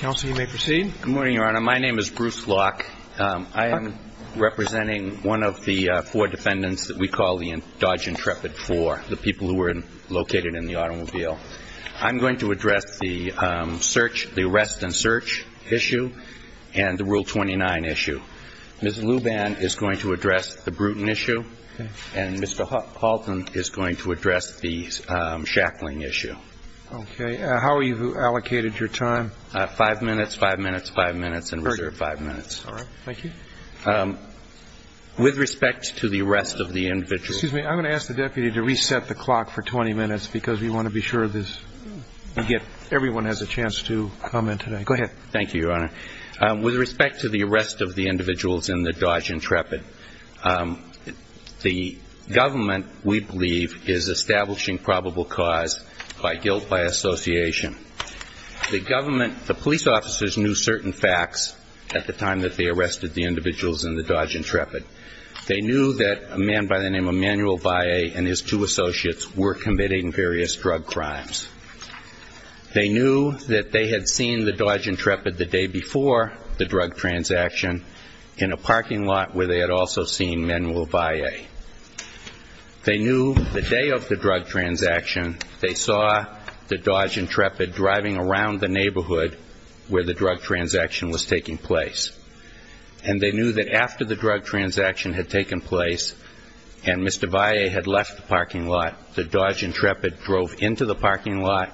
Good morning, Your Honor. My name is Bruce Locke. I am representing one of the four defendants that we call the Dodge Intrepid Four, the people who were located in the automobile. I'm going to address the search, the arrest and search issue and the Rule 29 issue. Ms. Luban is going to address the Bruton issue and Mr. Halton is going to address the Shackling issue. Okay. How are you allocated your time? Five minutes, five minutes, five minutes and reserve five minutes. All right. Thank you. With respect to the arrest of the individual Excuse me. I'm going to ask the deputy to reset the clock for 20 minutes because we want to be sure this, we get, everyone has a chance to comment today. Go ahead. Thank you, Your Honor. With respect to the arrest of the individuals in the Dodge Intrepid, the government, we believe, is establishing probable cause by guilt by association. The government, the police officers knew certain facts at the time that they arrested the individuals in the Dodge Intrepid. They knew that a man by the name of Emanuel Valle and his two associates were committing various drug crimes. They knew that they had seen the Dodge Intrepid the day before the drug transaction in a parking lot where they had also seen Emanuel Valle. They knew the day of the drug transaction, they saw the Dodge Intrepid driving around the neighborhood where the drug transaction was taking place. And they knew that after the drug transaction had taken place and Mr. Valle had left the parking lot, the Dodge Intrepid drove into the parking lot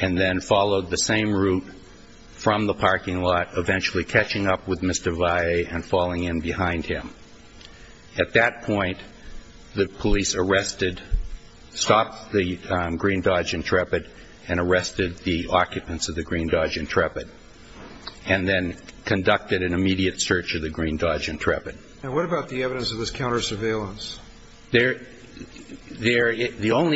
and then followed the same route from the parking lot, eventually catching up with Mr. Valle and falling in behind him. At that point, the police arrested, stopped the Green Dodge Intrepid and arrested the occupants of the Green Dodge Intrepid and then conducted an immediate search of the Green Dodge Intrepid. And what about the evidence of this counter surveillance? Well, there is no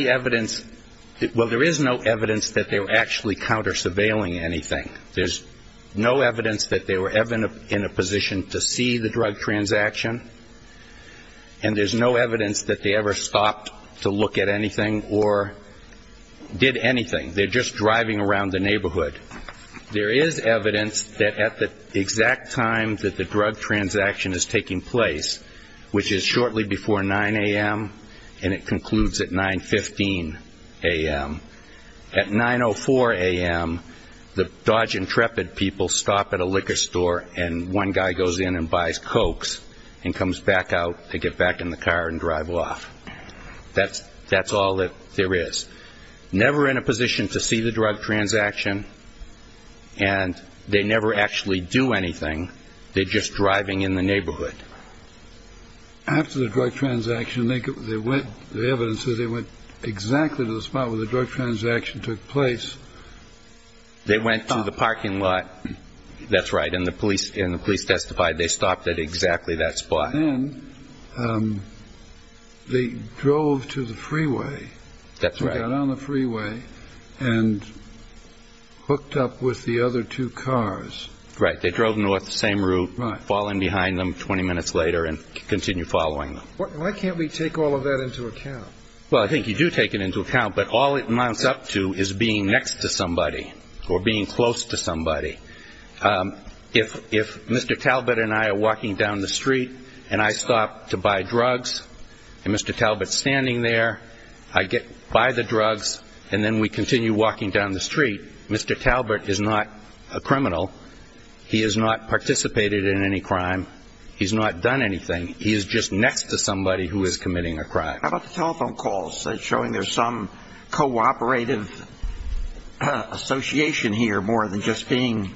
evidence that they were actually counter surveilling anything. There's no evidence that they were ever in a position to see the drug transaction and there's no evidence that they ever stopped to look at anything or did anything. They're just driving around the neighborhood. There is evidence that at the exact time that the drug transaction is taking place, which is shortly before 9 a.m. and it concludes at 9.15 a.m., at 9.04 a.m., the Dodge Intrepid people stop at a liquor store and one guy goes in and buys Cokes and comes back out to get back in the car and drive off. That's all that there is. Never in a position to see the drug transaction and they never actually do anything. They're just driving in the neighborhood. After the drug transaction, the evidence says they went exactly to the spot where the drug transaction took place. They went to the parking lot, that's right, and the police testified they stopped at exactly that spot. And then they drove to the freeway. That's right. They got on the freeway and hooked up with the other two cars. Right. They drove north the same route. Right. Fall in behind them 20 minutes later and continue following them. Why can't we take all of that into account? Well, I think you do take it into account, but all it amounts up to is being next to somebody or being close to somebody. If Mr. Talbot and I are walking down the street and I stop to buy drugs and Mr. Talbot's standing there, I buy the drugs and then we continue walking down the street, Mr. Talbot is not a criminal. He has not participated in any crime. He's not done anything. He is just next to somebody who is committing a crime. How about the telephone calls showing there's some cooperative association here more than just being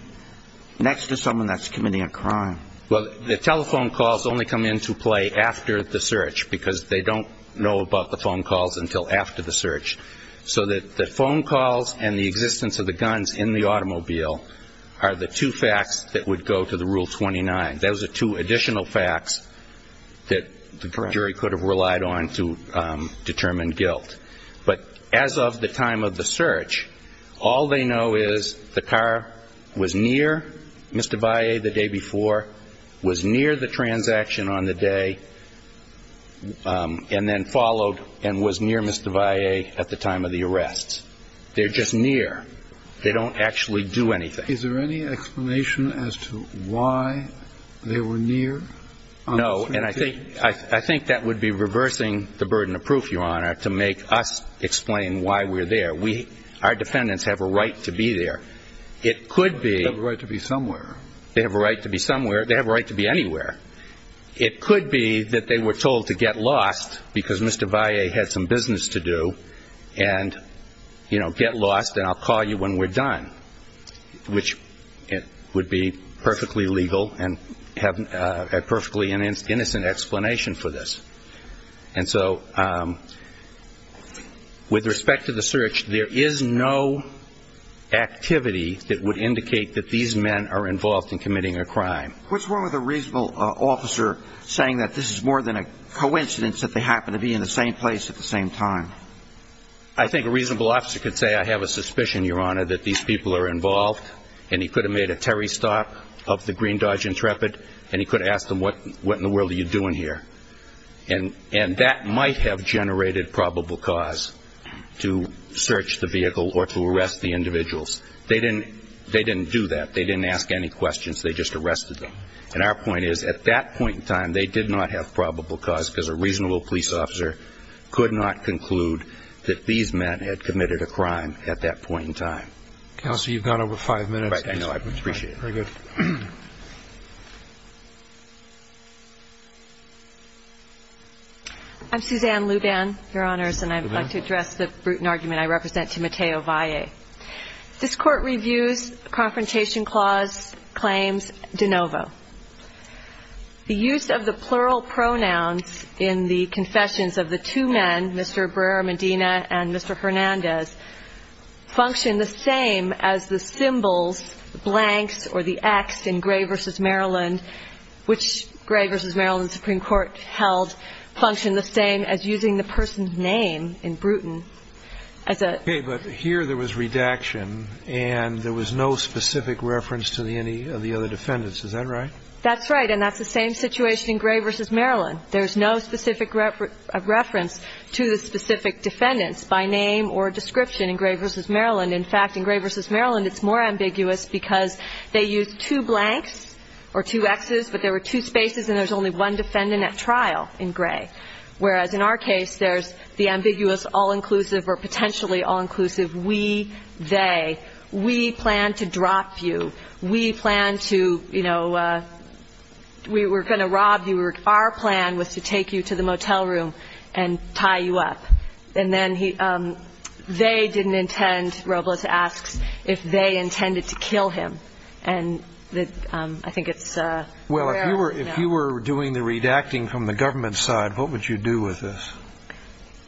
next to someone that's committing a crime? Well, the telephone calls only come into play after the search because they don't know about the phone calls until after the search. So the phone calls and the existence of the guns in the automobile are the two facts that would go to the Rule 29. Those are two additional facts that the jury could have relied on to determine guilt. But as of the time of the search, all they know is the car was near Mr. Valle the day before, was near the transaction on the day, and then followed and was near Mr. Valle at the time of the arrests. They're just near. They don't actually do anything. Is there any explanation as to why they were near? No, and I think that would be reversing the burden of proof, Your Honor, to make us explain why we're there. Our defendants have a right to be there. They have a right to be somewhere. They have a right to be somewhere. They have a right to be anywhere. It could be that they were told to get lost because Mr. Valle had some business to do and, you know, get lost and I'll call you when we're done. Which would be perfectly legal and have a perfectly innocent explanation for this. And so with respect to the search, there is no activity that would indicate that these men are involved in committing a crime. What's wrong with a reasonable officer saying that this is more than a coincidence that they happen to be in the same place at the same time? I think a reasonable officer could say I have a suspicion, Your Honor, that these people are involved and he could have made a Terry stop of the Green Dodge Intrepid and he could have asked them what in the world are you doing here? And that might have generated probable cause to search the vehicle or to arrest the individuals. They didn't do that. They didn't ask any questions. They just arrested them. And our point is, at that point in time, they did not have probable cause because a reasonable police officer could not conclude that these men had committed a crime at that point in time. Counsel, you've gone over five minutes. I know. I appreciate it. Very good. I'm Suzanne Luban, Your Honors, and I'd like to address the brutal argument I represent to Mateo Valle. This Court reviews Confrontation Clause Claims, de novo. The use of the plural pronouns in the confessions of the two men, Mr. Barrera-Medina and Mr. Hernandez, function the same as the symbols, the blanks or the X in Gray v. Maryland, which Gray v. Maryland's Supreme Court held functioned the same as using the person's name in Bruton. Okay, but here there was redaction and there was no specific reference to any of the other defendants. Is that right? That's right, and that's the same situation in Gray v. Maryland. There's no specific reference to the specific defendants by name or description in Gray v. Maryland. In fact, in Gray v. Maryland, it's more ambiguous because they used two blanks or two Xs, but there were two spaces and there was only one defendant at trial in Gray, whereas in our case there's the ambiguous all-inclusive or potentially all-inclusive we, they. We plan to drop you. We plan to, you know, we were going to rob you. Our plan was to take you to the motel room and tie you up. And then they didn't intend, Robles asks, if they intended to kill him. And I think it's aware of, you know. What would you do with this?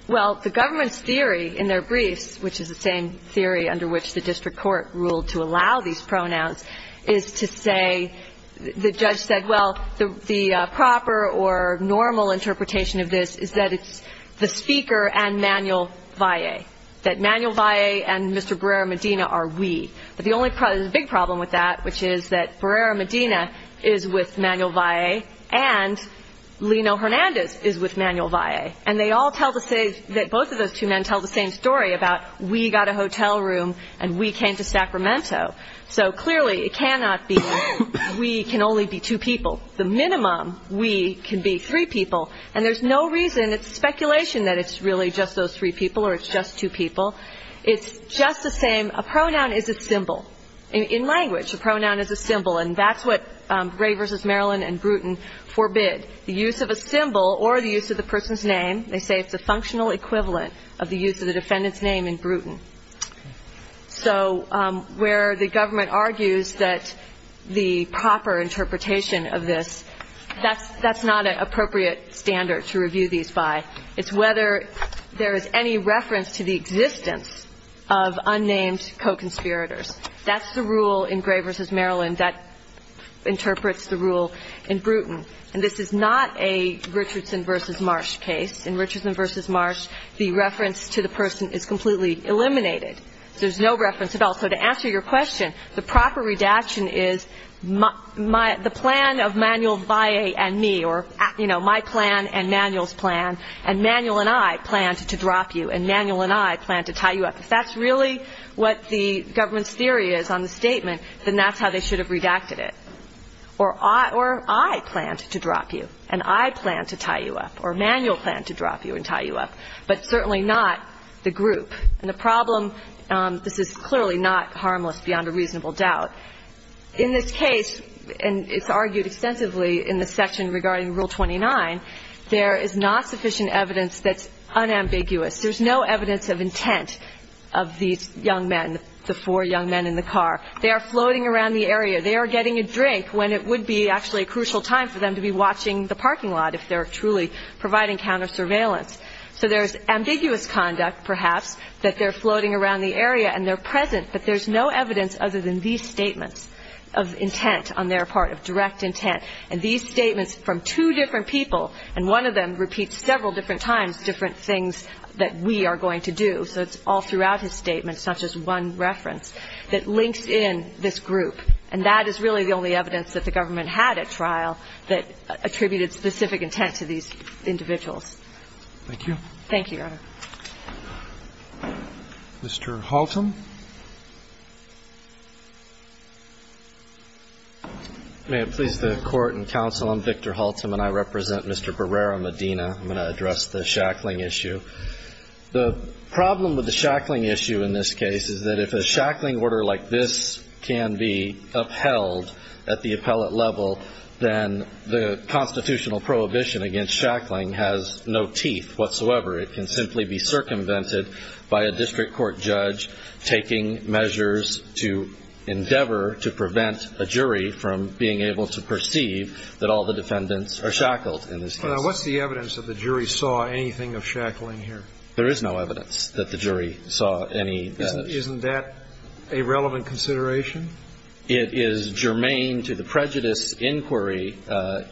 Well, the government's theory in their briefs, which is the same theory under which the district court ruled to allow these pronouns, is to say, the judge said, well, the proper or normal interpretation of this is that it's the speaker and Manuel Valle, that Manuel Valle and Mr. Barrera-Medina are we. But the only big problem with that, which is that Barrera-Medina is with Manuel Valle and Lino Hernandez is with Manuel Valle. And they all tell the same, both of those two men tell the same story about we got a hotel room and we came to Sacramento. So clearly it cannot be we can only be two people. The minimum we can be three people. And there's no reason, it's speculation that it's really just those three people or it's just two people. It's just the same. A pronoun is a symbol. In language, a pronoun is a symbol. And that's what Gray v. Maryland and Bruton forbid, the use of a symbol or the use of the person's name. They say it's a functional equivalent of the use of the defendant's name in Bruton. So where the government argues that the proper interpretation of this, that's not an appropriate standard to review these by. It's whether there is any reference to the existence of unnamed co-conspirators. That's the rule in Gray v. Maryland that interprets the rule in Bruton. And this is not a Richardson v. Marsh case. In Richardson v. Marsh, the reference to the person is completely eliminated. There's no reference at all. So to answer your question, the proper redaction is the plan of Manuel Valle and me or, you know, my plan and Manuel's plan, and Manuel and I plan to drop you and Manuel and I plan to tie you up. If that's really what the government's theory is on the statement, then that's how they should have redacted it. Or I plan to drop you and I plan to tie you up or Manuel planned to drop you and tie you up, but certainly not the group. And the problem, this is clearly not harmless beyond a reasonable doubt. In this case, and it's argued extensively in the section regarding Rule 29, there is not sufficient evidence that's unambiguous. There's no evidence of intent of these young men, the four young men in the car. They are floating around the area. They are getting a drink when it would be actually a crucial time for them to be watching the parking lot if they're truly providing counter-surveillance. So there's ambiguous conduct, perhaps, that they're floating around the area and they're present, but there's no evidence other than these statements of intent on their part, of direct intent. And these statements from two different people, and one of them repeats several different times different things that we are going to do. So it's all throughout his statement, it's not just one reference, that links in this group. And that is really the only evidence that the government had at trial that attributed specific intent to these individuals. Thank you. Thank you, Your Honor. Mr. Haltom. May it please the Court and Counsel, I'm Victor Haltom and I represent Mr. Barrera-Medina. I'm going to address the shackling issue. The problem with the shackling issue in this case is that if a shackling order like this can be upheld at the appellate level, then the constitutional prohibition against shackling has no teeth whatsoever. It can simply be circumvented by a district court judge taking measures to endeavor to prevent a jury from being able to perceive that all the defendants are shackled in this case. What's the evidence that the jury saw anything of shackling here? There is no evidence that the jury saw any. Isn't that a relevant consideration? It is germane to the prejudice inquiry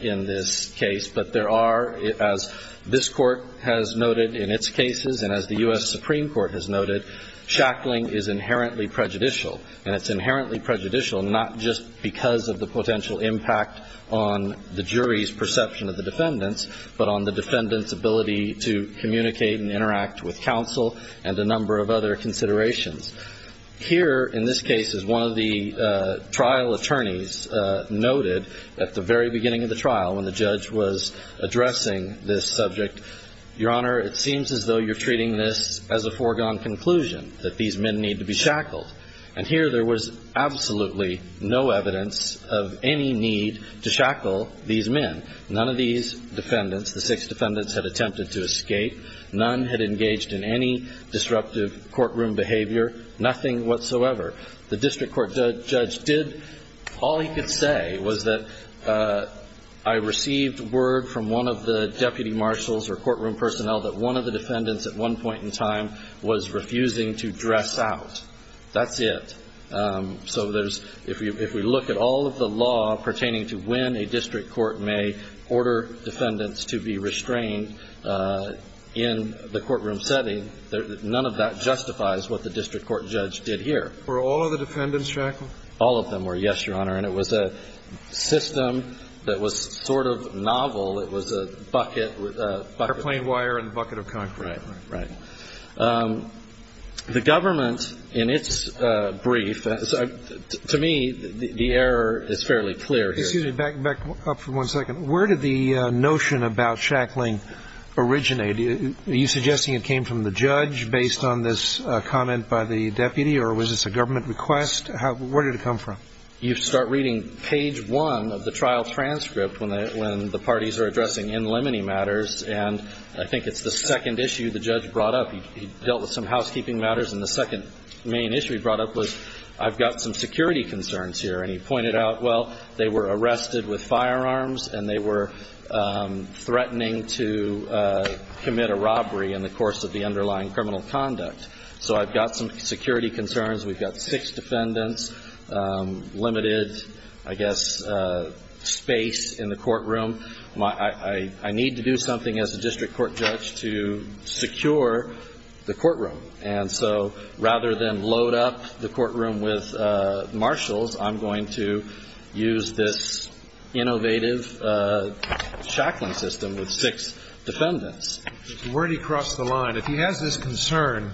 in this case. But there are, as this Court has noted in its cases and as the U.S. Supreme Court has noted, shackling is inherently prejudicial. And it's inherently prejudicial not just because of the potential impact on the jury's perception of the defendants, but on the defendants' ability to communicate and interact with counsel and a number of other considerations. Here, in this case, as one of the trial attorneys noted at the very beginning of the trial when the judge was addressing this subject, Your Honor, it seems as though you're treating this as a foregone conclusion, that these men need to be shackled. And here there was absolutely no evidence of any need to shackle these men. None of these defendants, the six defendants, had attempted to escape. None had engaged in any disruptive courtroom behavior, nothing whatsoever. The district court judge did. All he could say was that I received word from one of the deputy marshals or courtroom personnel that one of the defendants at one point in time was refusing to dress out. That's it. So there's – if we look at all of the law pertaining to when a district court may order defendants to be restrained in the courtroom setting, none of that justifies what the district court judge did here. Were all of the defendants shackled? All of them were, yes, Your Honor. And it was a system that was sort of novel. It was a bucket of – Airplane wire and a bucket of concrete. Right, right. The government, in its brief – to me, the error is fairly clear here. Excuse me. Back up for one second. Where did the notion about shackling originate? Are you suggesting it came from the judge based on this comment by the deputy, or was this a government request? Where did it come from? You start reading page one of the trial transcript when the parties are addressing in limine matters, and I think it's the second issue the judge brought up. He dealt with some housekeeping matters, and the second main issue he brought up was I've got some security concerns here, and he pointed out, well, they were arrested with firearms and they were threatening to commit a robbery in the course of the underlying criminal conduct. So I've got some security concerns. We've got six defendants, limited, I guess, space in the courtroom. I need to do something as a district court judge to secure the courtroom. And so rather than load up the courtroom with marshals, I'm going to use this innovative shackling system with six defendants. Where did he cross the line? If he has this concern,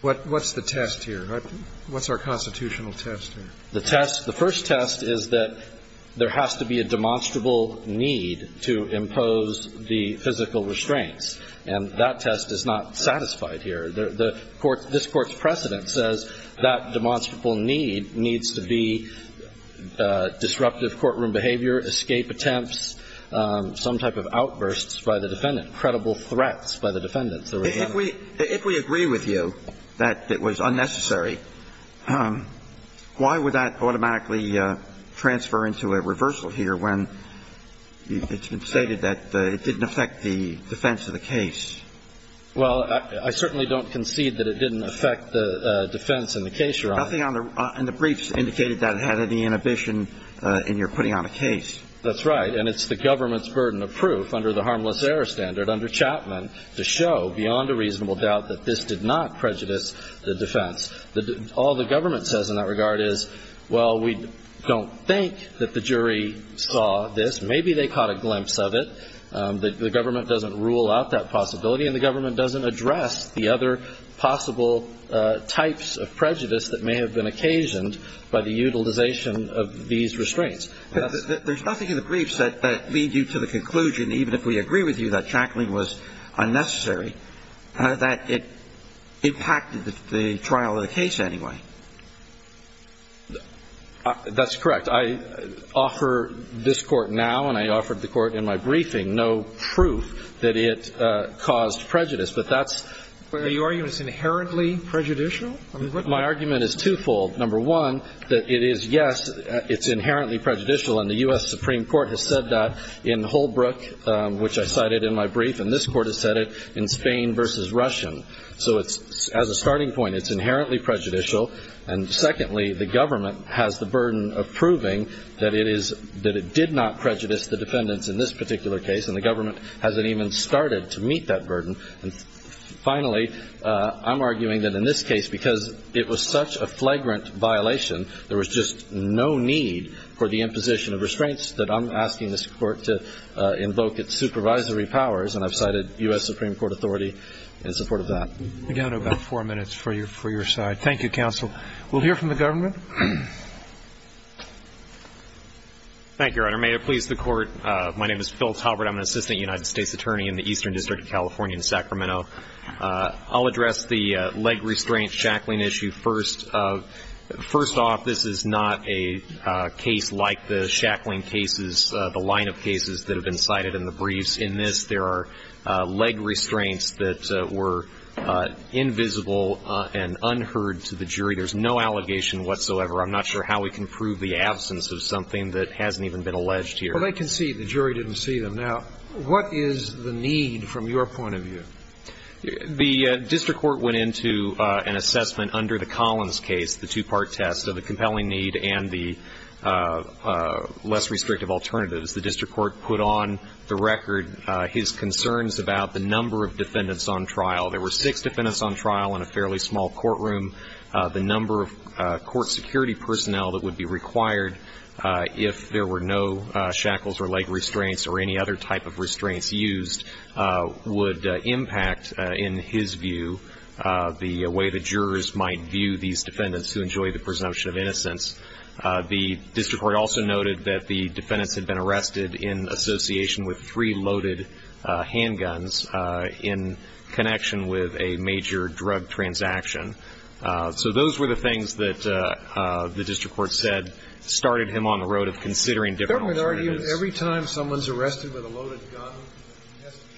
what's the test here? What's our constitutional test here? The test, the first test is that there has to be a demonstrable need to impose the physical restraints, and that test is not satisfied here. The court, this Court's precedent says that demonstrable need needs to be disruptive courtroom behavior, escape attempts, some type of outbursts by the defendant, credible threats by the defendant. If we agree with you that it was unnecessary, why would that automatically transfer into a reversal here when it's been stated that it didn't affect the defense of the case? Well, I certainly don't concede that it didn't affect the defense in the case you're on. Nothing on the briefs indicated that it had any inhibition in your putting on a case. That's right. And it's the government's burden of proof under the harmless error standard under Chapman to show beyond a reasonable doubt that this did not prejudice the defense. All the government says in that regard is, well, we don't think that the jury saw this. Maybe they caught a glimpse of it. The government doesn't rule out that possibility, and the government doesn't address the other possible types of prejudice that may have been occasioned by the utilization of these restraints. There's nothing in the briefs that leads you to the conclusion, even if we agree with you that shackling was unnecessary, that it impacted the trial of the case anyway. That's correct. I offer this Court now, and I offered the Court in my briefing, no proof that it caused prejudice, but that's the argument. Are you arguing it's inherently prejudicial? My argument is twofold. Number one, that it is, yes, it's inherently prejudicial, and the U.S. Supreme Court has said that in Holbrook, which I cited in my brief, and this Court has said it in Spain v. Russian. So as a starting point, it's inherently prejudicial. And secondly, the government has the burden of proving that it did not prejudice the defendants in this particular case, and the government hasn't even started to meet that burden. And finally, I'm arguing that in this case, because it was such a flagrant violation, there was just no need for the imposition of restraints that I'm asking this Court to invoke its supervisory powers, and I've cited U.S. Supreme Court authority in support of that. We've got about four minutes for your side. Thank you, counsel. We'll hear from the government. Thank you, Your Honor. May it please the Court, my name is Phil Talbert. I'm an assistant United States attorney in the Eastern District of California in Sacramento. I'll address the leg restraint shackling issue first. First off, this is not a case like the shackling cases, the line of cases that have been cited in the briefs. In this, there are leg restraints that were invisible and unheard to the jury. There's no allegation whatsoever. I'm not sure how we can prove the absence of something that hasn't even been alleged here. Well, they can see the jury didn't see them. Now, what is the need from your point of view? The district court went into an assessment under the Collins case, the two-part test of the compelling need and the less restrictive alternatives. The district court put on the record his concerns about the number of defendants on trial. There were six defendants on trial in a fairly small courtroom. The number of court security personnel that would be required if there were no shackles or leg restraints or any other type of restraints used would impact, in his view, the way the jurors might view these defendants who enjoy the presumption of innocence. The district court also noted that the defendants had been arrested in association with three loaded handguns in connection with a major drug transaction. So those were the things that the district court said started him on the road of considering different alternatives. Every time someone's arrested with a loaded gun,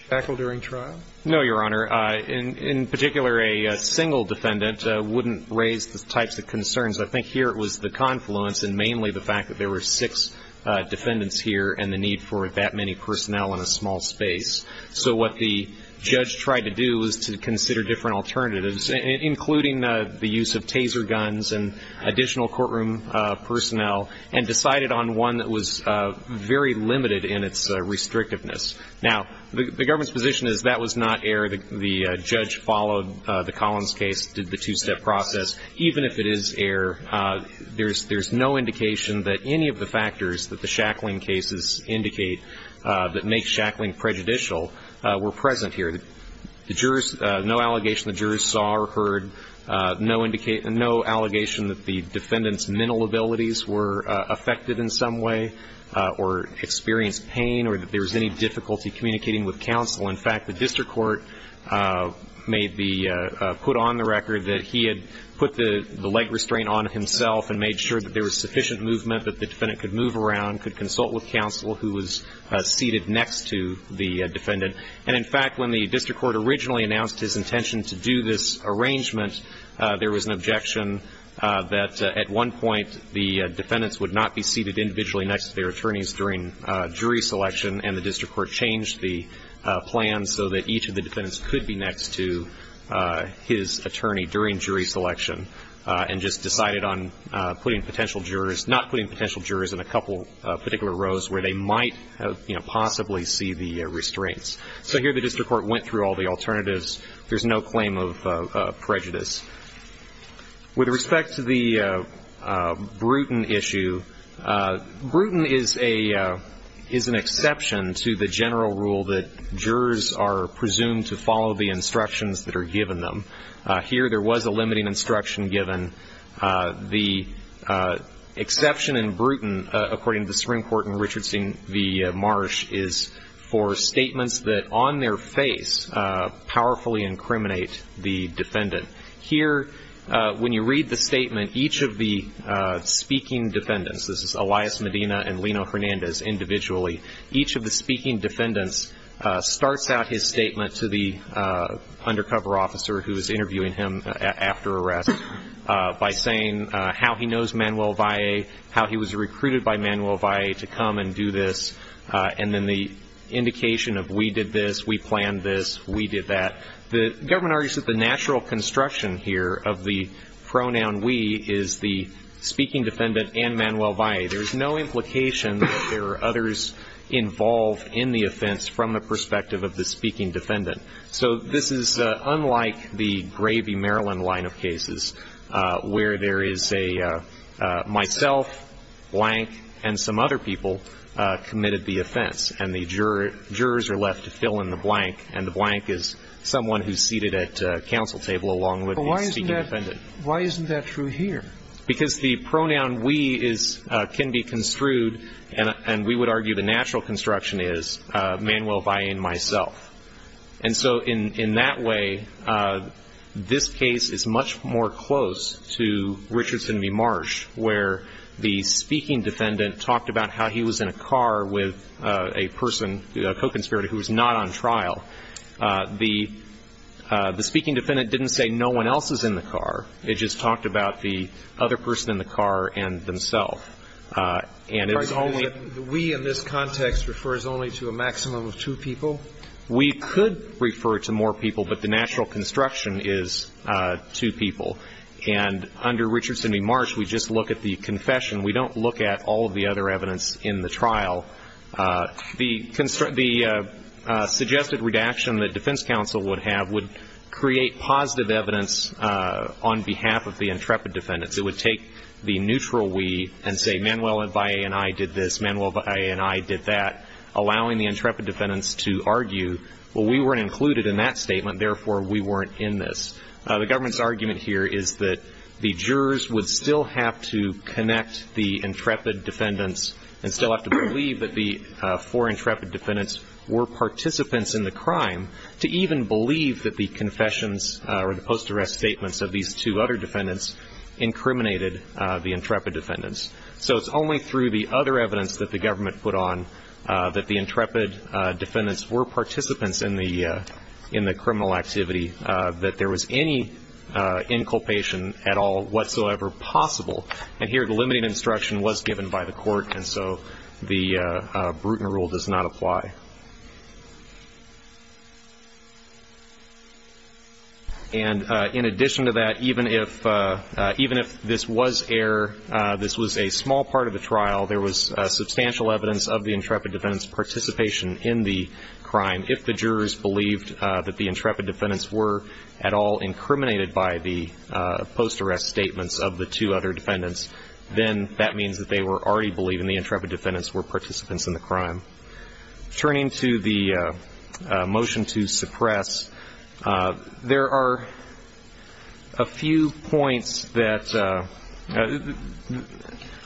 shackled during trial? No, Your Honor. In particular, a single defendant wouldn't raise the types of concerns. I think here it was the confluence and mainly the fact that there were six defendants here and the need for that many personnel in a small space. So what the judge tried to do was to consider different alternatives, including the use of taser guns and additional courtroom personnel, and decided on one that was very limited in its restrictiveness. Now, the government's position is that was not error. The judge followed the Collins case, did the two-step process. Even if it is error, there's no indication that any of the factors that the shackling cases indicate that make shackling prejudicial were present here. No allegation the jurors saw or heard, no allegation that the defendant's mental abilities were affected in some way or experienced pain or that there was any difficulty communicating with counsel. In fact, the district court may be put on the record that he had put the leg restraint on himself and made sure that there was sufficient movement that the defendant could move around, could consult with counsel who was seated next to the defendant. And, in fact, when the district court originally announced his intention to do this arrangement, there was an objection that at one point the defendants would not be seated individually next to their attorneys during jury selection, and the district court changed the plan so that each of the defendants could be next to his attorney during jury selection and just decided on putting potential jurors, not putting potential jurors in a couple of particular rows where they might possibly see the restraints. So here the district court went through all the alternatives. There's no claim of prejudice. With respect to the Bruton issue, Bruton is an exception to the general rule that jurors are presumed to follow the instructions that are given them. Here there was a limiting instruction given. The exception in Bruton, according to the Supreme Court in Richardson v. Marsh, is for statements that on their face powerfully incriminate the defendant. Here when you read the statement, each of the speaking defendants, this is Elias Medina and Lino Hernandez individually, each of the speaking defendants starts out his statement to the undercover officer who is interviewing him after arrest by saying how he knows Manuel Valle, how he was recruited by Manuel Valle to come and do this, and then the indication of we did this, we planned this, we did that. The government argues that the natural construction here of the pronoun we is the speaking defendant and Manuel Valle. There is no implication that there are others involved in the offense from the perspective of the speaking defendant. So this is unlike the gravy Maryland line of cases where there is a myself, blank, and some other people committed the offense, and the jurors are left to fill in the blank, and the blank is someone who is seated at counsel table along with the speaking defendant. Why isn't that true here? Because the pronoun we is can be construed, and we would argue the natural construction is Manuel Valle and myself. And so in that way, this case is much more close to Richardson v. Marsh, where the speaking defendant talked about how he was in a car with a person, a co-conspirator, who was not on trial. The speaking defendant didn't say no one else is in the car. It just talked about the other person in the car and themself. And it's only The we in this context refers only to a maximum of two people? We could refer to more people, but the natural construction is two people. And under Richardson v. Marsh, we just look at the confession. We don't look at all of the other evidence in the trial. The suggested redaction that defense counsel would have would create positive evidence on behalf of the intrepid defendants. It would take the neutral we and say Manuel Valle and I did this, Manuel Valle and I did that, allowing the intrepid defendants to argue, well, we weren't included in that statement, therefore we weren't in this. The government's argument here is that the jurors would still have to connect the intrepid defendants and still have to believe that the four intrepid defendants were participants in the crime to even believe that the confessions or the post-arrest statements of these two other defendants incriminated the intrepid defendants. So it's only through the other evidence that the government put on that the intrepid defendants were participants in the criminal activity that there was any inculpation at all whatsoever possible. And here the limiting instruction was given by the court, and so the Bruton rule does not apply. And in addition to that, even if this was a small part of the trial, there was substantial evidence of the intrepid defendants' participation in the crime if the jurors believed that the intrepid defendants were at all incriminated by the post-arrest statements of the two other defendants, then that means that they were already believing the intrepid defendants were participants in the crime. Turning to the motion to suppress, there are a few points that ‑‑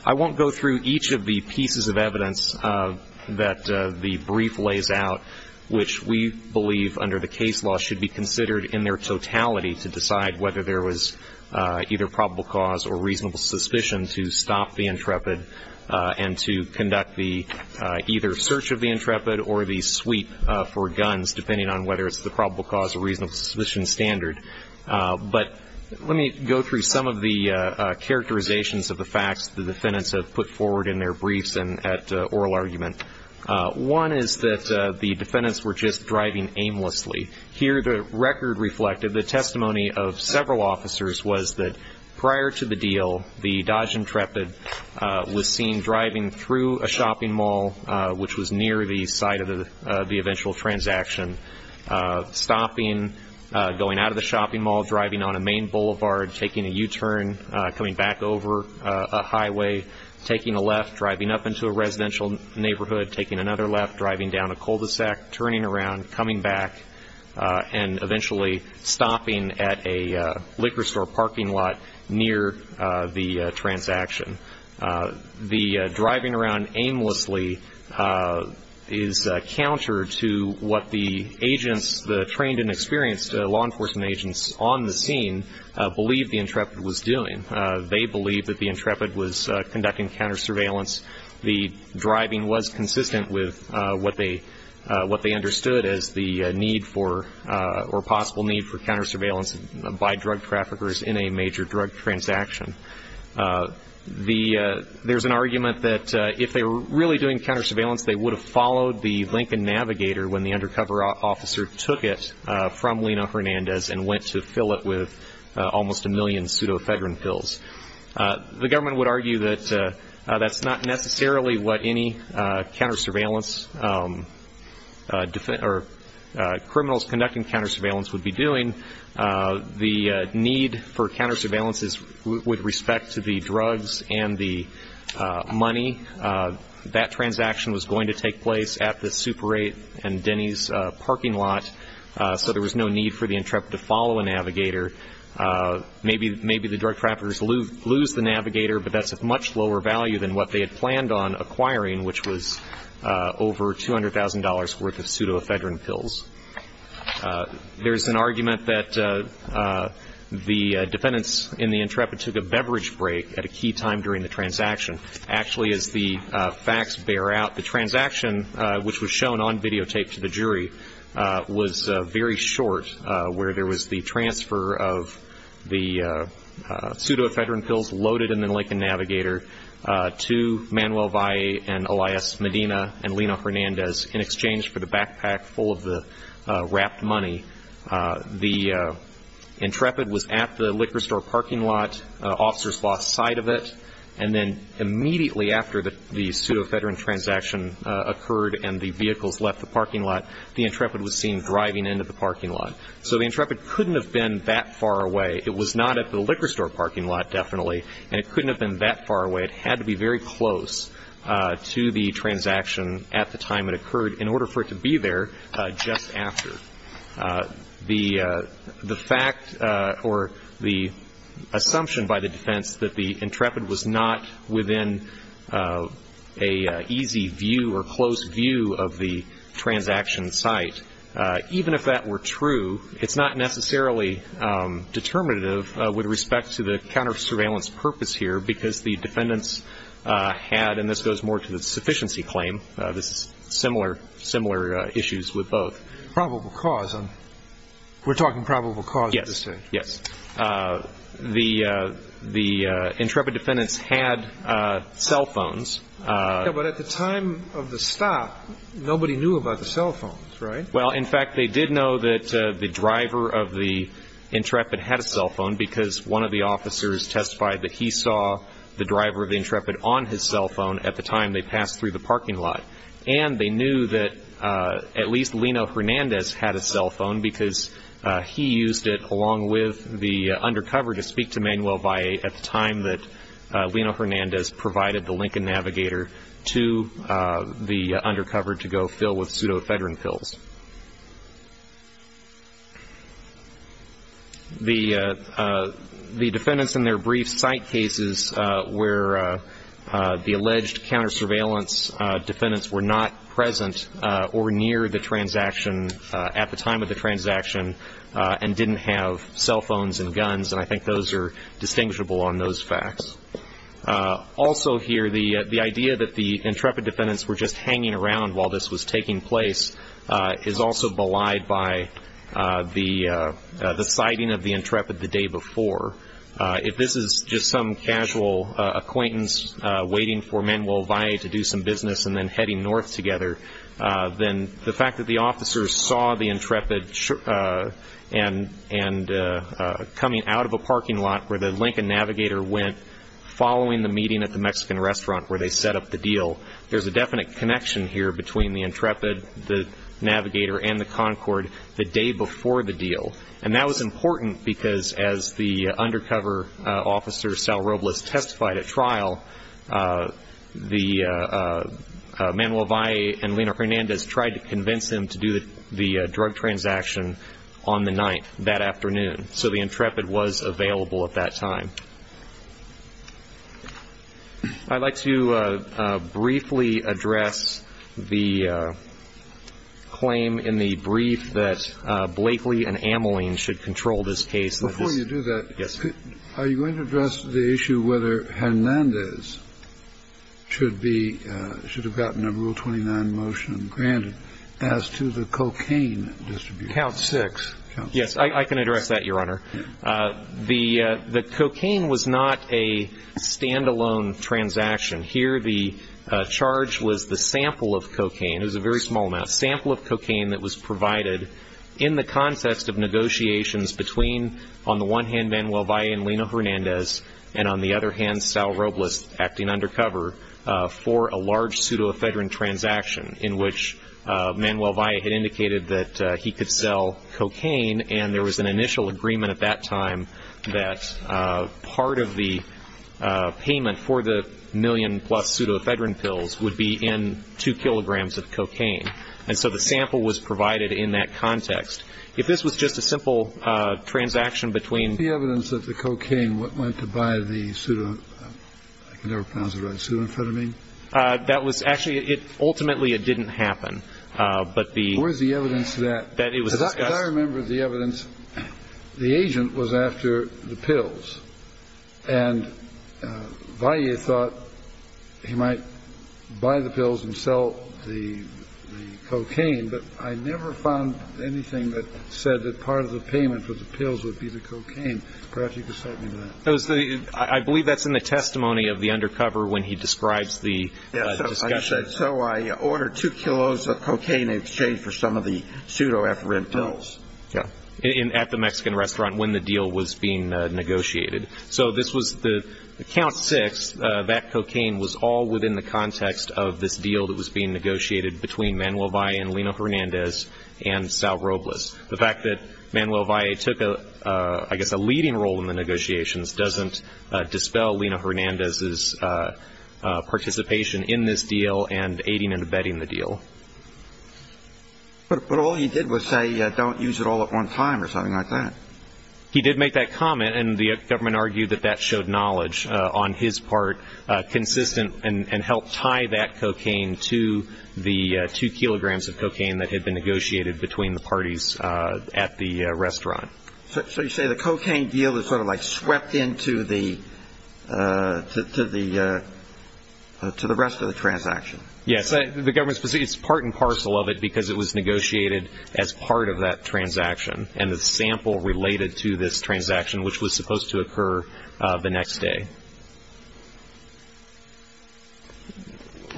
I won't go through each of the pieces of evidence that the brief lays out, which we believe under the case law should be considered in their totality to decide whether there was either probable cause or reasonable suspicion to stop the intrepid and to conduct the either search of the intrepid or the sweep for guns, depending on whether it's the probable cause or reasonable suspicion standard. But let me go through some of the characterizations of the facts the defendants have put forward in their briefs and at oral argument. One is that the defendants were just driving aimlessly. Here the record reflected the testimony of several officers was that prior to the deal, the Dodge intrepid was seen driving through a shopping mall, which was near the site of the eventual transaction, stopping, going out of the shopping mall, driving on a main boulevard, taking a U‑turn, coming back over a highway, taking a left, driving up into a residential neighborhood, taking another left, driving down a cul-de‑sac, turning around, coming back, and eventually stopping at a liquor store parking lot near the transaction. The driving around aimlessly is counter to what the agents, the trained and experienced law enforcement agents on the scene believed the intrepid was doing. They believed that the intrepid was conducting counter‑surveillance. The driving was consistent with what they understood as the need for or possible need for counter‑surveillance by drug traffickers in a major drug transaction. There's an argument that if they were really doing counter‑surveillance, they would have followed the Lincoln Navigator when the undercover officer took it from Lino Hernandez and went to fill it with almost a million pseudoephedrine pills. The government would argue that that's not necessarily what any counter‑surveillance or criminals conducting counter‑surveillance would be doing. The need for counter‑surveillance is with respect to the drugs and the money. That transaction was going to take place at the Super 8 and Denny's parking lot, so there was no need for the intrepid to follow a navigator. Maybe the drug traffickers lose the navigator, but that's of much lower value than what they had planned on acquiring, which was over $200,000 worth of pseudoephedrine pills. There's an argument that the defendants in the intrepid took a beverage break at a key time during the transaction. Actually, as the facts bear out, the transaction, which was shown on videotape to the jury, was very short, where there was the transfer of the pseudoephedrine pills loaded in the Lincoln Navigator to Manuel Valle and Elias Medina and Lino Hernandez in exchange for the backpack full of the wrapped money. The intrepid was at the liquor store parking lot. Officers lost sight of it. And then immediately after the pseudoephedrine transaction occurred and the vehicles left the parking lot, the intrepid was seen driving into the parking lot. So the intrepid couldn't have been that far away. It was not at the liquor store parking lot, definitely, and it couldn't have been that far away. It had to be very close to the transaction at the time it occurred in order for it to be there just after. The fact or the assumption by the defense that the intrepid was not within an easy view or close view of the transaction site, even if that were true, it's not necessarily determinative with respect to the counter-surveillance purpose here, because the defendants had, and this goes more to the sufficiency claim, this is similar issues with both. Probable cause. We're talking probable cause at this stage. Yes. The intrepid defendants had cell phones. Yeah, but at the time of the stop, nobody knew about the cell phones, right? Well, in fact, they did know that the driver of the intrepid had a cell phone because one of the officers testified that he saw the driver of the intrepid on his cell phone at the time they passed through the parking lot. And they knew that at least Lino Hernandez had a cell phone because he used it along with the undercover to speak to Manuel Valle at the time that Lino Hernandez provided the Lincoln Navigator to the undercover to go fill with pseudoephedrine pills. The defendants in their brief site cases where the alleged counter-surveillance defendants were not present or near the transaction at the time of the transaction and didn't have cell phones and guns, and I think those are distinguishable on those facts. Also here, the idea that the intrepid defendants were just hanging around while this was taking place is also belied by the sighting of the intrepid the day before. If this is just some casual acquaintance waiting for Manuel Valle to do some business and then heading north together, then the fact that the officers saw the intrepid coming out of a parking lot where the Lincoln Navigator went following the meeting at the Mexican restaurant where they set up the deal, there's a definite connection here between the intrepid, the Navigator, and the Concord the day before the deal. And that was important because as the undercover officer, Sal Robles, testified at trial, Manuel Valle and Lino Hernandez tried to convince him to do the drug transaction on the 9th that afternoon. So the intrepid was available at that time. I'd like to briefly address the claim in the brief that Blakely and Ameling should control this case. Before you do that, are you going to address the issue whether Hernandez should be should have gotten a Rule 29 motion granted as to the cocaine distribution? Count six. Yes, I can address that, Your Honor. The cocaine was not a stand-alone transaction. Here the charge was the sample of cocaine. It was a very small amount. Sample of cocaine that was provided in the context of negotiations between, on the one hand, Manuel Valle and Lino Hernandez, and on the other hand, Sal Robles acting undercover, for a large pseudoephedrine transaction in which Manuel Valle had indicated that he could sell cocaine and there was an initial agreement at that time that part of the payment for the million-plus pseudoephedrine pills would be in two kilograms of cocaine. And so the sample was provided in that context. If this was just a simple transaction between The evidence that the cocaine went to buy the pseudo, I can never pronounce it right, pseudoephedrine? That was actually, ultimately it didn't happen. But the Where's the evidence that That it was discussed Yes, I remember the evidence. The agent was after the pills, and Valle thought he might buy the pills and sell the cocaine, but I never found anything that said that part of the payment for the pills would be the cocaine. Perhaps you could cite me to that. I believe that's in the testimony of the undercover when he describes the discussion. So I ordered two kilos of cocaine in exchange for some of the pseudoephedrine pills. At the Mexican restaurant when the deal was being negotiated. So this was the count six, that cocaine was all within the context of this deal that was being negotiated between Manuel Valle and Lino Hernandez and Sal Robles. The fact that Manuel Valle took, I guess, a leading role in the negotiations doesn't dispel Lino Hernandez's participation in this deal and aiding and abetting the deal. But all he did was say, don't use it all at one time or something like that. He did make that comment, and the government argued that that showed knowledge on his part, consistent and helped tie that cocaine to the two kilograms of cocaine that had been negotiated between the parties at the restaurant. So you say the cocaine deal is sort of like swept into the rest of the transaction. Yes. It's part and parcel of it because it was negotiated as part of that transaction and the sample related to this transaction, which was supposed to occur the next day.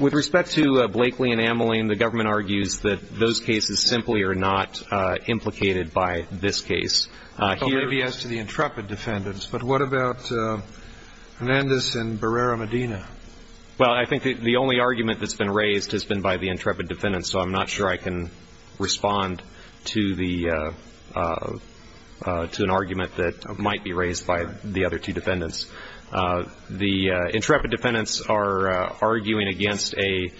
With respect to Blakely and Ameline, the government argues that those cases simply are not implicated by this case. Maybe as to the intrepid defendants, but what about Hernandez and Barrera-Medina? Well, I think the only argument that's been raised has been by the intrepid defendants, so I'm not sure I can respond to an argument that might be raised by the other two defendants. The intrepid defendants are arguing against a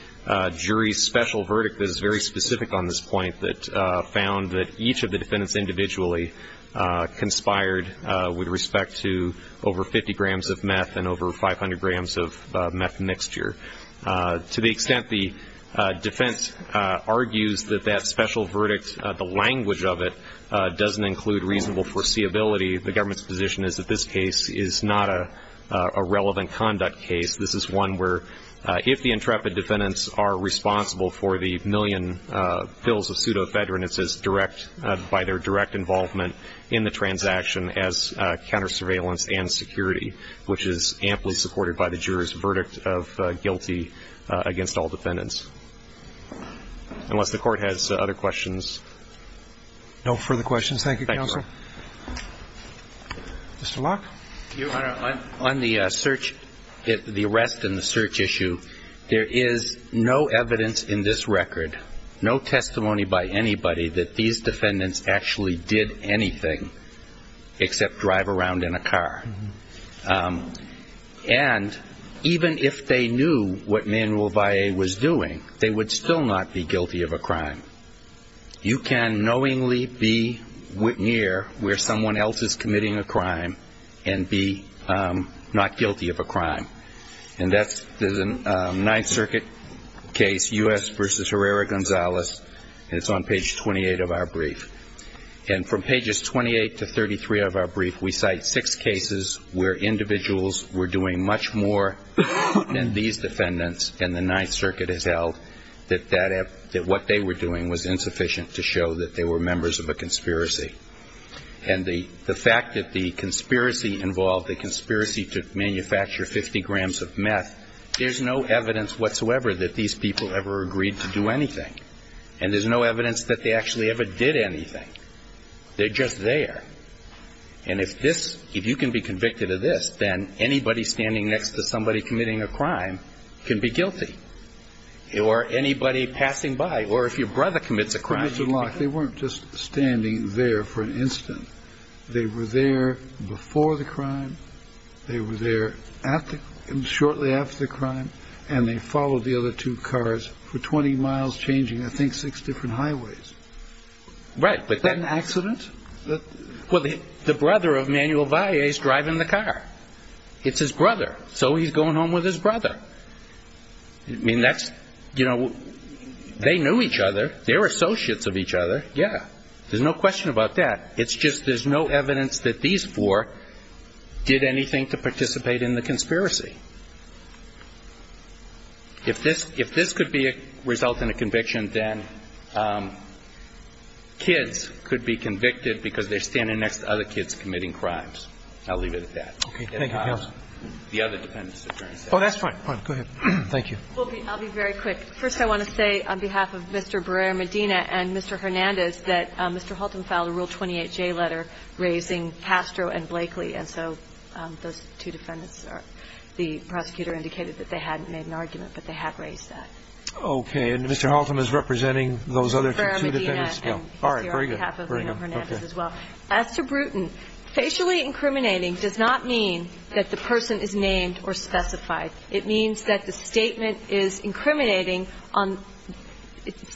jury's special verdict that is very specific on this point that found that each of the defendants individually conspired with respect to over 50 grams of meth and over 500 grams of meth mixture. To the extent the defense argues that that special verdict, the language of it, doesn't include reasonable foreseeability, the government's position is that this case is not a relevant conduct case. This is one where if the intrepid defendants are responsible for the million pills of pseudoephedrine, it's by their direct involvement in the transaction as counter surveillance and security, which is amply supported by the jury's verdict of guilty against all defendants. Unless the Court has other questions. No further questions. Thank you, Counsel. Mr. Locke. Your Honor, on the search, the arrest and the search issue, there is no evidence in this record, no testimony by anybody that these defendants actually did anything except drive around in a car. And even if they knew what Manuel Valle was doing, they would still not be guilty of a crime. You can knowingly be near where someone else is committing a crime and be not guilty of a crime. And that's the Ninth Circuit case, U.S. v. Herrera-Gonzalez, and it's on page 28 of our brief. And from pages 28 to 33 of our brief, we cite six cases where individuals were doing much more than these defendants and the Ninth Circuit has held that what they were doing was insufficient to show that they were members of a conspiracy. And the fact that the conspiracy involved the conspiracy to manufacture 50 grams of meth, there's no evidence whatsoever that these people ever agreed to do anything. And there's no evidence that they actually ever did anything. They're just there. And if you can be convicted of this, then anybody standing next to somebody committing a crime can be guilty. Or anybody passing by. Or if your brother commits a crime. They weren't just standing there for an instant. They were there before the crime. They were there shortly after the crime. And they followed the other two cars for 20 miles, changing, I think, six different highways. Right. Is that an accident? Well, the brother of Manuel Valle is driving the car. It's his brother. So he's going home with his brother. I mean, that's, you know, they knew each other. They're associates of each other. Yeah. There's no question about that. It's just there's no evidence that these four did anything to participate in the conspiracy. If this could result in a conviction, then kids could be convicted because they're standing next to other kids committing crimes. I'll leave it at that. Okay. Thank you, Your Honor. The other defendants. Oh, that's fine. Go ahead. Thank you. I'll be very quick. First, I want to say on behalf of Mr. Barrera-Medina and Mr. Hernandez, that Mr. Halton filed a Rule 28J letter raising Castro and Blakely. And so those two defendants are the prosecutor indicated that they hadn't made an argument, but they have raised that. Okay. And Mr. Halton is representing those other two defendants? Mr. Barrera-Medina and Mr. Hernandez as well. All right. Very good. As to Bruton, facially incriminating does not mean that the person is named or specified. It means that the statement is incriminating on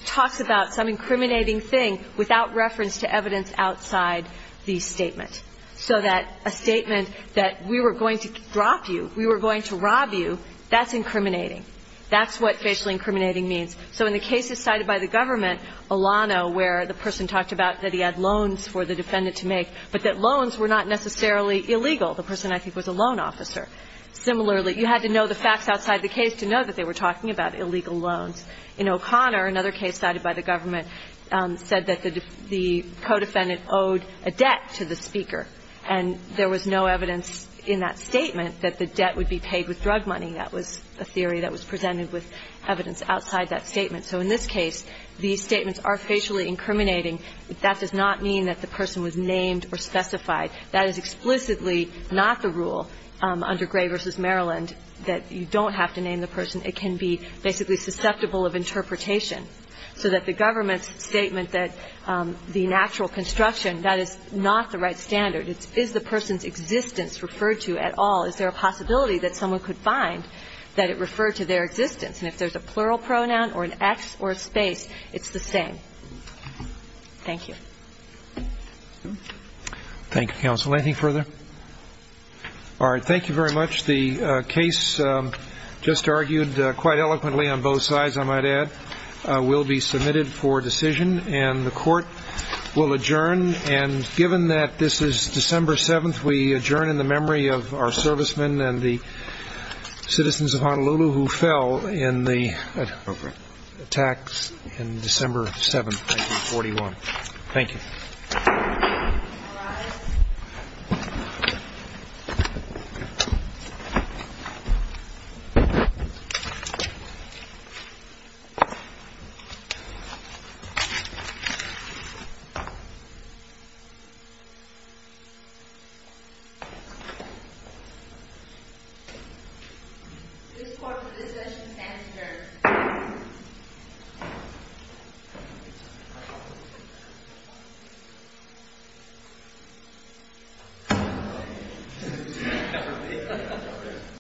talks about some incriminating thing without reference to evidence outside the statement. So that a statement that we were going to drop you, we were going to rob you, that's incriminating. That's what facially incriminating means. So in the cases cited by the government, Olano, where the person talked about that he had loans for the defendant to make, but that loans were not necessarily illegal. The person, I think, was a loan officer. Similarly, you had to know the facts outside the case to know that they were talking about illegal loans. In O'Connor, another case cited by the government, said that the co-defendant owed a debt to the speaker, and there was no evidence in that statement that the debt would be paid with drug money. That was a theory that was presented with evidence outside that statement. So in this case, these statements are facially incriminating. That does not mean that the person was named or specified. That is explicitly not the rule under Gray v. Maryland that you don't have to name the person. It can be basically susceptible of interpretation. So that the government's statement that the natural construction, that is not the right standard. Is the person's existence referred to at all? Is there a possibility that someone could find that it referred to their existence? And if there's a plural pronoun or an X or a space, it's the same. Thank you. Thank you, counsel. Anything further? All right, thank you very much. The case just argued quite eloquently on both sides, I might add. We'll be submitted for decision, and the court will adjourn. And given that this is December 7th, we adjourn in the memory of our servicemen and the citizens of Honolulu who fell in the attacks in December 7th, 1941. Thank you. All rise. This court for discussion stands adjourned. Thank you.